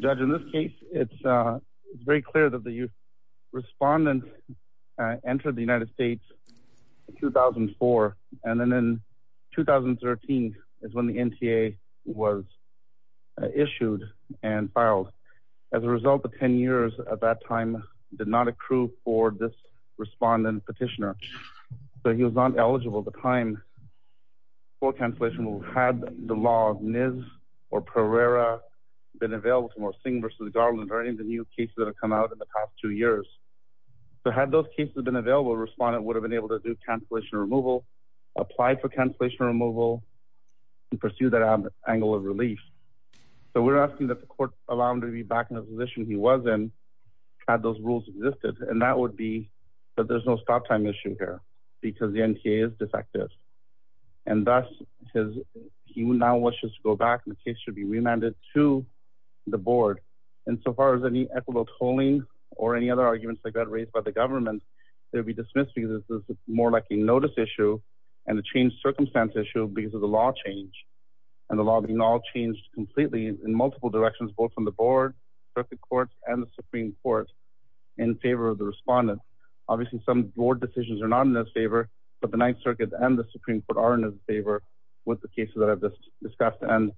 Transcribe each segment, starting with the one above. Judge in this case it's very clear that the respondent entered the United States in 2004 and then in 2013 is when the NTA was issued and filed. As a result the 10 years at that time did not accrue for this respondent petitioner. So he was not eligible at the time for cancellation removal. Had the law of NIS or Pereira been available for Singh v. Garland or any of the new cases that have come out in the past two years. So had those cases have been available a respondent would have been able to do cancellation removal, apply for cancellation removal and pursue that angle of relief. So we're asking that the court allow him to be back in the had those rules existed and that would be that there's no stop time issue here because the NTA is defective. And thus he now wishes to go back and the case should be remanded to the board. And so far as any equitable tolling or any other arguments that got raised by the government they'll be dismissed because this is more like a notice issue and a change circumstance issue because of the law change. And the law being all changed completely in favor of the court and the Supreme Court in favor of the respondent. Obviously some board decisions are not in their favor but the Ninth Circuit and the Supreme Court are in favor with the cases that I've just discussed and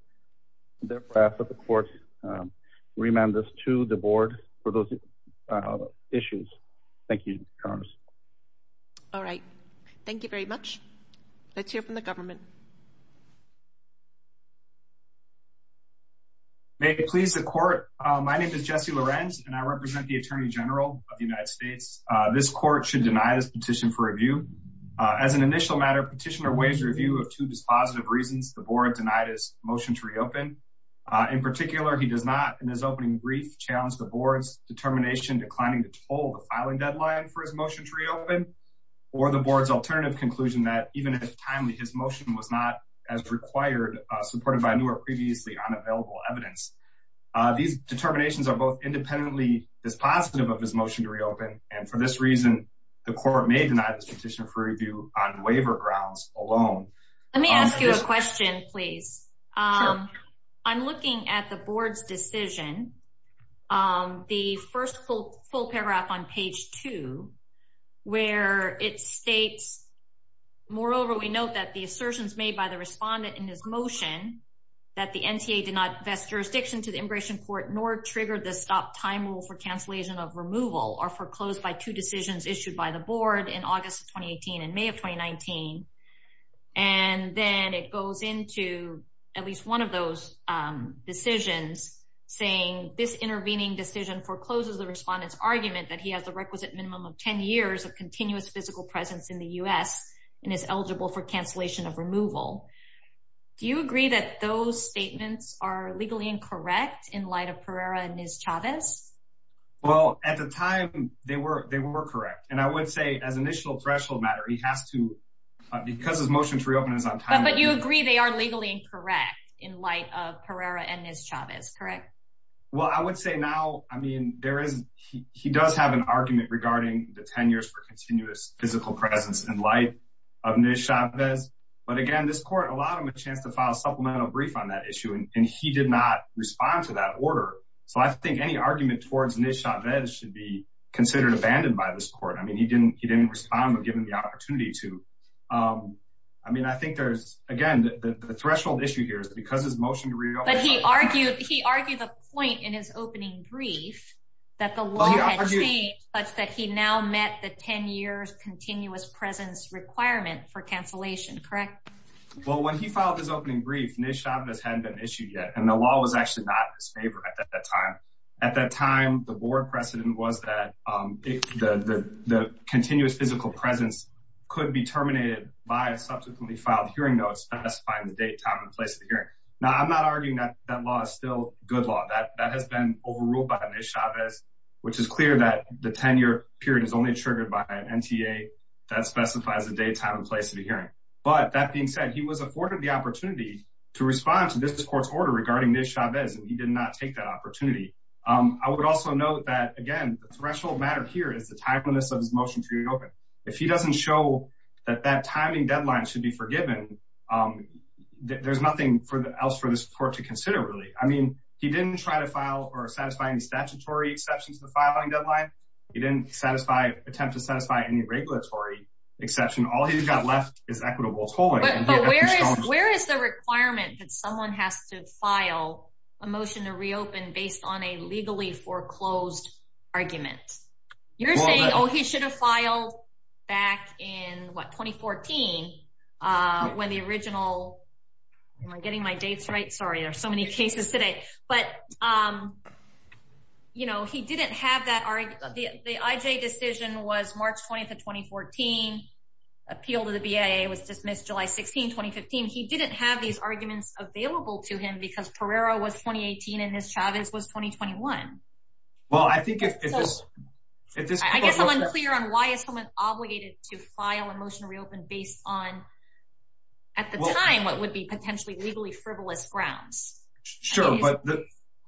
therefore I ask that the court remand this to the board for those issues. Thank you, Your Honor. All right. Thank you very much. Let's hear from the government. May it please the court. My name is Jesse Lorenz and I represent the Attorney General of the United States. This court should deny this petition for review. As an initial matter petitioner waives review of two dispositive reasons the board denied his motion to reopen. In particular, he does not in his opening brief challenge the board's determination declining to toll the filing deadline for his motion to reopen or the board's alternative conclusion that even if timely his motion was not as required supported by newer previously unavailable evidence. These determinations are both independently dispositive of his motion to reopen and for this reason the court may deny this petition for review on waiver grounds alone. Let me ask you a question please. I'm looking at the board's decision. The first full paragraph on page two where it states moreover we note that the assertions made by the respondent in his motion that the NTA did not vest jurisdiction to the immigration court nor triggered the stop time rule for cancellation of removal or foreclosed by two decisions issued by the board in August of 2018 and May of 2019. And then it goes into at least one of those decisions saying this intervening decision forecloses the respondent's argument that he has the requisite minimum of 10 years of continuous physical presence in the US and is eligible for cancellation of removal. Do you agree that those statements are legally incorrect in light of Pereira and Chavez? Well, at the time they were they were correct and I would say as initial threshold matter he has to because his motion to reopen But you agree they are legally incorrect in light of Pereira and Chavez, correct? Well, I would say now I mean there is he does have an argument regarding the 10 years for continuous physical presence in light of Chavez. But again this court allowed him a chance to file a supplemental brief on that issue and he did not respond to that order. So I think any argument towards Chavez should be considered abandoned by this court. I mean he didn't he didn't respond given the opportunity to. I mean I think there's again the threshold issue here is because his motion to reopen. But he argued he argued the point in his opening brief that the law had changed such that he now met the 10 years continuous presence requirement for cancellation, correct? Well, when he filed his opening brief Nez Chavez hadn't been issued yet and the law was actually not in his favor at that time. At that time the board precedent was that the continuous physical presence could be terminated by a subsequently filed hearing notes specifying the date time and place of the hearing. Now I'm not arguing that that law is still good law that that has been overruled by Nez Chavez which is clear that the 10-year period is only triggered by an NTA that specifies the date time and place of the hearing. But that being said he was afforded the opportunity to respond to this court's order regarding Nez Chavez and he did not take that opportunity. I would also note that again the threshold matter here is the timeliness of his reopen. If he doesn't show that that timing deadline should be forgiven there's nothing for the else for the support to consider really. I mean he didn't try to file or satisfy any statutory exceptions to the filing deadline. He didn't satisfy attempt to satisfy any regulatory exception. All he's got left is equitable tolling. But where is where is the requirement that someone has to file a motion to reopen based on a legally foreclosed argument? You're saying oh he should file back in what 2014 when the original am I getting my dates right? Sorry there's so many cases today. But you know he didn't have that argument the IJ decision was March 20th of 2014 appeal to the BIA was dismissed July 16, 2015. He didn't have these arguments available to him because Pereira was 2018 and Nez Chavez was 2021. Well I think if this if this I guess I'm unclear on why is someone obligated to file a motion to reopen based on at the time what would be potentially legally frivolous grounds. Sure but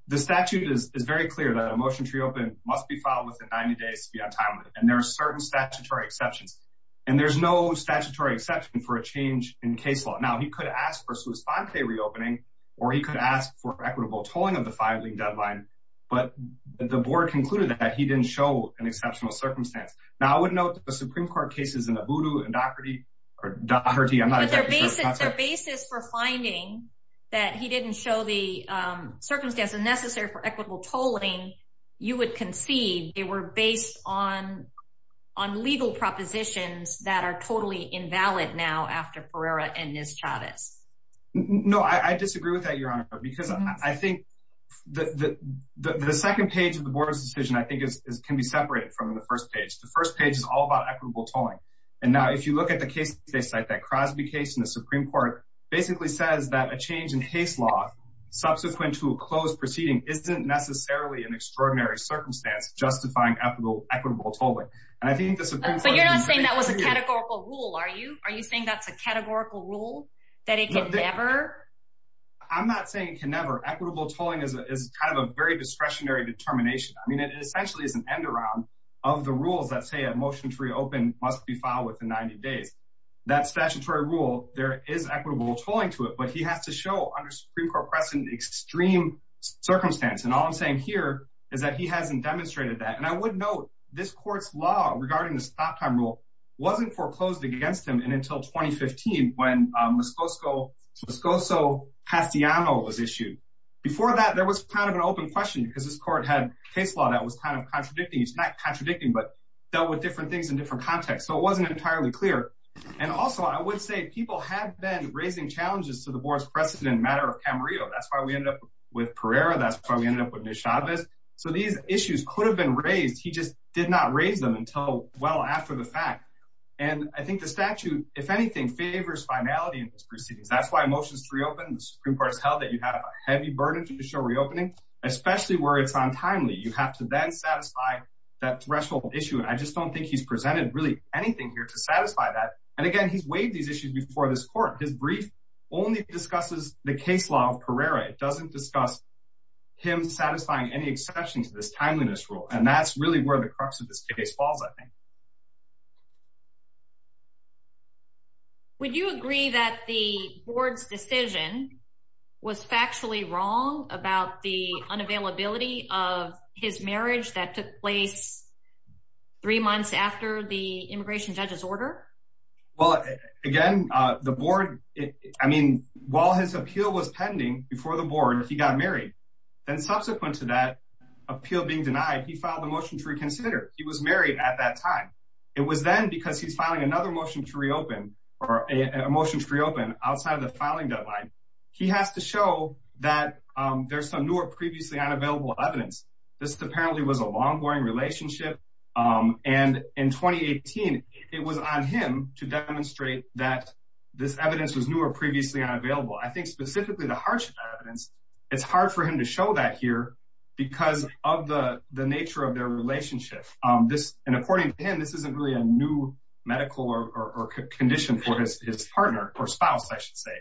the statute is is very clear that a motion to reopen must be filed within 90 days to be on time and there are certain statutory exceptions and there's no statutory exception for a change in case law. Now he could ask for Swiss 5k reopening or he could ask for equitable tolling of the filing deadline but the board concluded that he didn't show an exceptional circumstance. Now I would note the Supreme Court cases in Obudu and Doherty or Doherty I'm not sure. But their basis their basis for finding that he didn't show the circumstance and necessary for equitable tolling you would concede they were based on on legal propositions that are totally invalid now after Pereira and Nez Chavez. No I disagree with that your honor because I think the the the second page of the board's decision I think is can be separated from the first page. The first page is all about equitable tolling and now if you look at the case they cite that Crosby case in the Supreme Court basically says that a change in case law subsequent to a closed proceeding isn't necessarily an extraordinary circumstance justifying equitable equitable tolling and I think the Supreme Court. So you're not saying that was a categorical rule are you are you saying that's a categorical rule that it could never I'm not saying it can never equitable tolling is kind of a very discretionary determination I mean it essentially is an end around of the rules that say a motion to reopen must be filed within 90 days that statutory rule there is equitable tolling to it but he has to show under Supreme Court precedent extreme circumstance and all I'm saying here is that he hasn't demonstrated that and I would note this court's law regarding the stop time rule wasn't foreclosed against him and until 2015 when Muscoso Castellano was issued before that there was kind of an open question because this court had case law that was kind of contradicting it's not contradicting but dealt with different things in different contexts so it wasn't entirely clear and also I would say people have been raising challenges to the board's precedent matter of Camarillo that's why we ended up with Pereira that's why we ended up with Neshadvez so these issues could have been raised he just did not raise them until well after the and I think the statute if anything favors finality in this proceedings that's why motions to reopen the Supreme Court has held that you have a heavy burden to show reopening especially where it's untimely you have to then satisfy that threshold issue and I just don't think he's presented really anything here to satisfy that and again he's waived these issues before this court his brief only discusses the case law of Pereira it doesn't discuss him satisfying any exceptions to this timeliness rule and that's really where the crux of this case falls I think would you agree that the board's decision was factually wrong about the unavailability of his marriage that took place three months after the immigration judge's order well again uh the board I mean while his appeal was pending before the board he got married then subsequent to that appeal being denied he filed the motion to reconsider he was married at that time it was then because he's filing another motion to reopen or a motion to reopen outside of the filing deadline he has to show that um there's some newer previously unavailable evidence this apparently was a long-running relationship um and in 2018 it was on him to demonstrate that this evidence was newer previously unavailable I think specifically the hardship evidence it's hard for him to show that here because of the the nature of their relationship um this and according to him this isn't really a new medical or condition for his partner or spouse I should say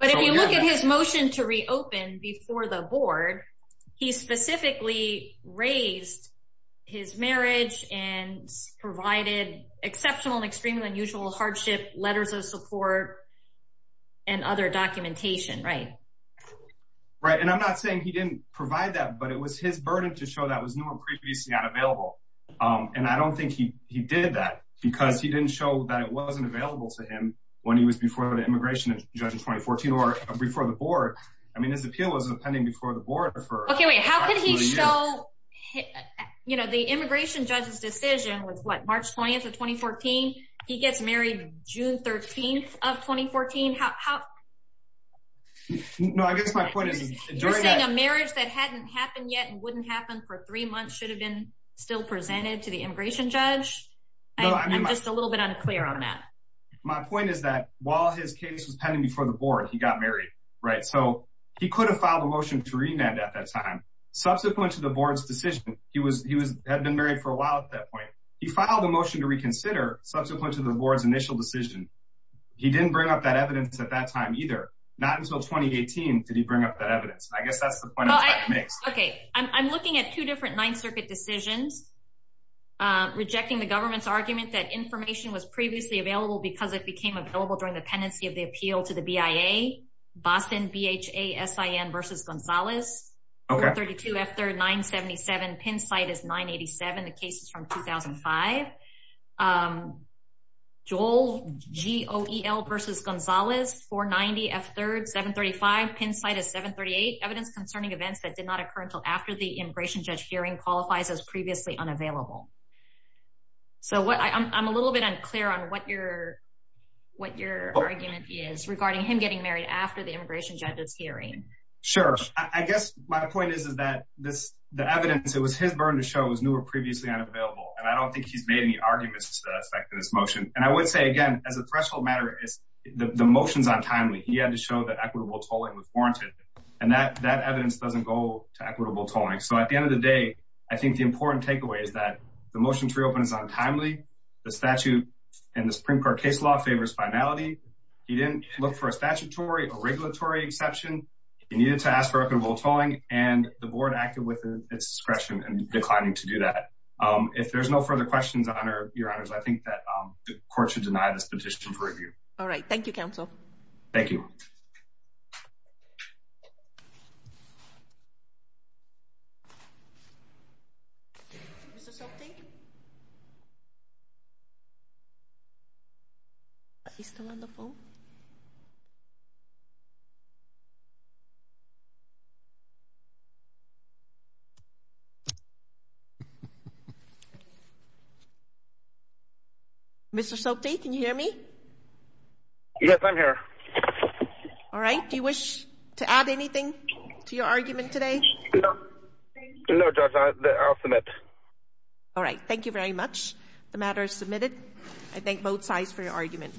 but if you look at his motion to reopen before the board he specifically raised his marriage and provided exceptional and extremely unusual hardship letters of support and other documentation right right and I'm not saying he didn't provide that but it was his burden to show that was previously unavailable um and I don't think he he did that because he didn't show that it wasn't available to him when he was before the immigration judge in 2014 or before the board I mean his appeal was pending before the board for okay wait how could he show you know the immigration judge's decision was what March 20th of 2014 he gets married June 13th of 2014 how how no I guess during a marriage that hadn't happened yet and wouldn't happen for three months should have been still presented to the immigration judge I'm just a little bit unclear on that my point is that while his case was pending before the board he got married right so he could have filed a motion to remand at that time subsequent to the board's decision he was he was had been married for a while at that point he filed a motion to reconsider subsequent to the board's initial decision he didn't bring up that evidence at that time either not until 2018 did he bring up that evidence I guess that's the point okay I'm looking at two different ninth circuit decisions um rejecting the government's argument that information was previously available because it became available during the pendency of the appeal to the BIA Boston B-H-A-S-I-N versus G-O-E-L versus Gonzalez 490 F-3rd 735 pin site is 738 evidence concerning events that did not occur until after the immigration judge hearing qualifies as previously unavailable so what I'm a little bit unclear on what your what your argument is regarding him getting married after the immigration judge's hearing sure I guess my point is is that this the evidence it was his burden to show was new or previously unavailable and I don't think he's made any effect in this motion and I would say again as a threshold matter is the the motions on timely he had to show that equitable tolling was warranted and that that evidence doesn't go to equitable tolling so at the end of the day I think the important takeaway is that the motion to reopen is on timely the statute and the Supreme Court case law favors finality he didn't look for a statutory or regulatory exception he needed to ask for equitable tolling and the board acted with its discretion and declining to do that if there's no further questions on our your honors I think that um the court should deny this petition for review all right thank you counsel thank you is there something he's still on the phone yes I'm here all right do you wish to add anything to your argument today no judge I'll submit all right thank you very much the matter is submitted I thank both sides for your argument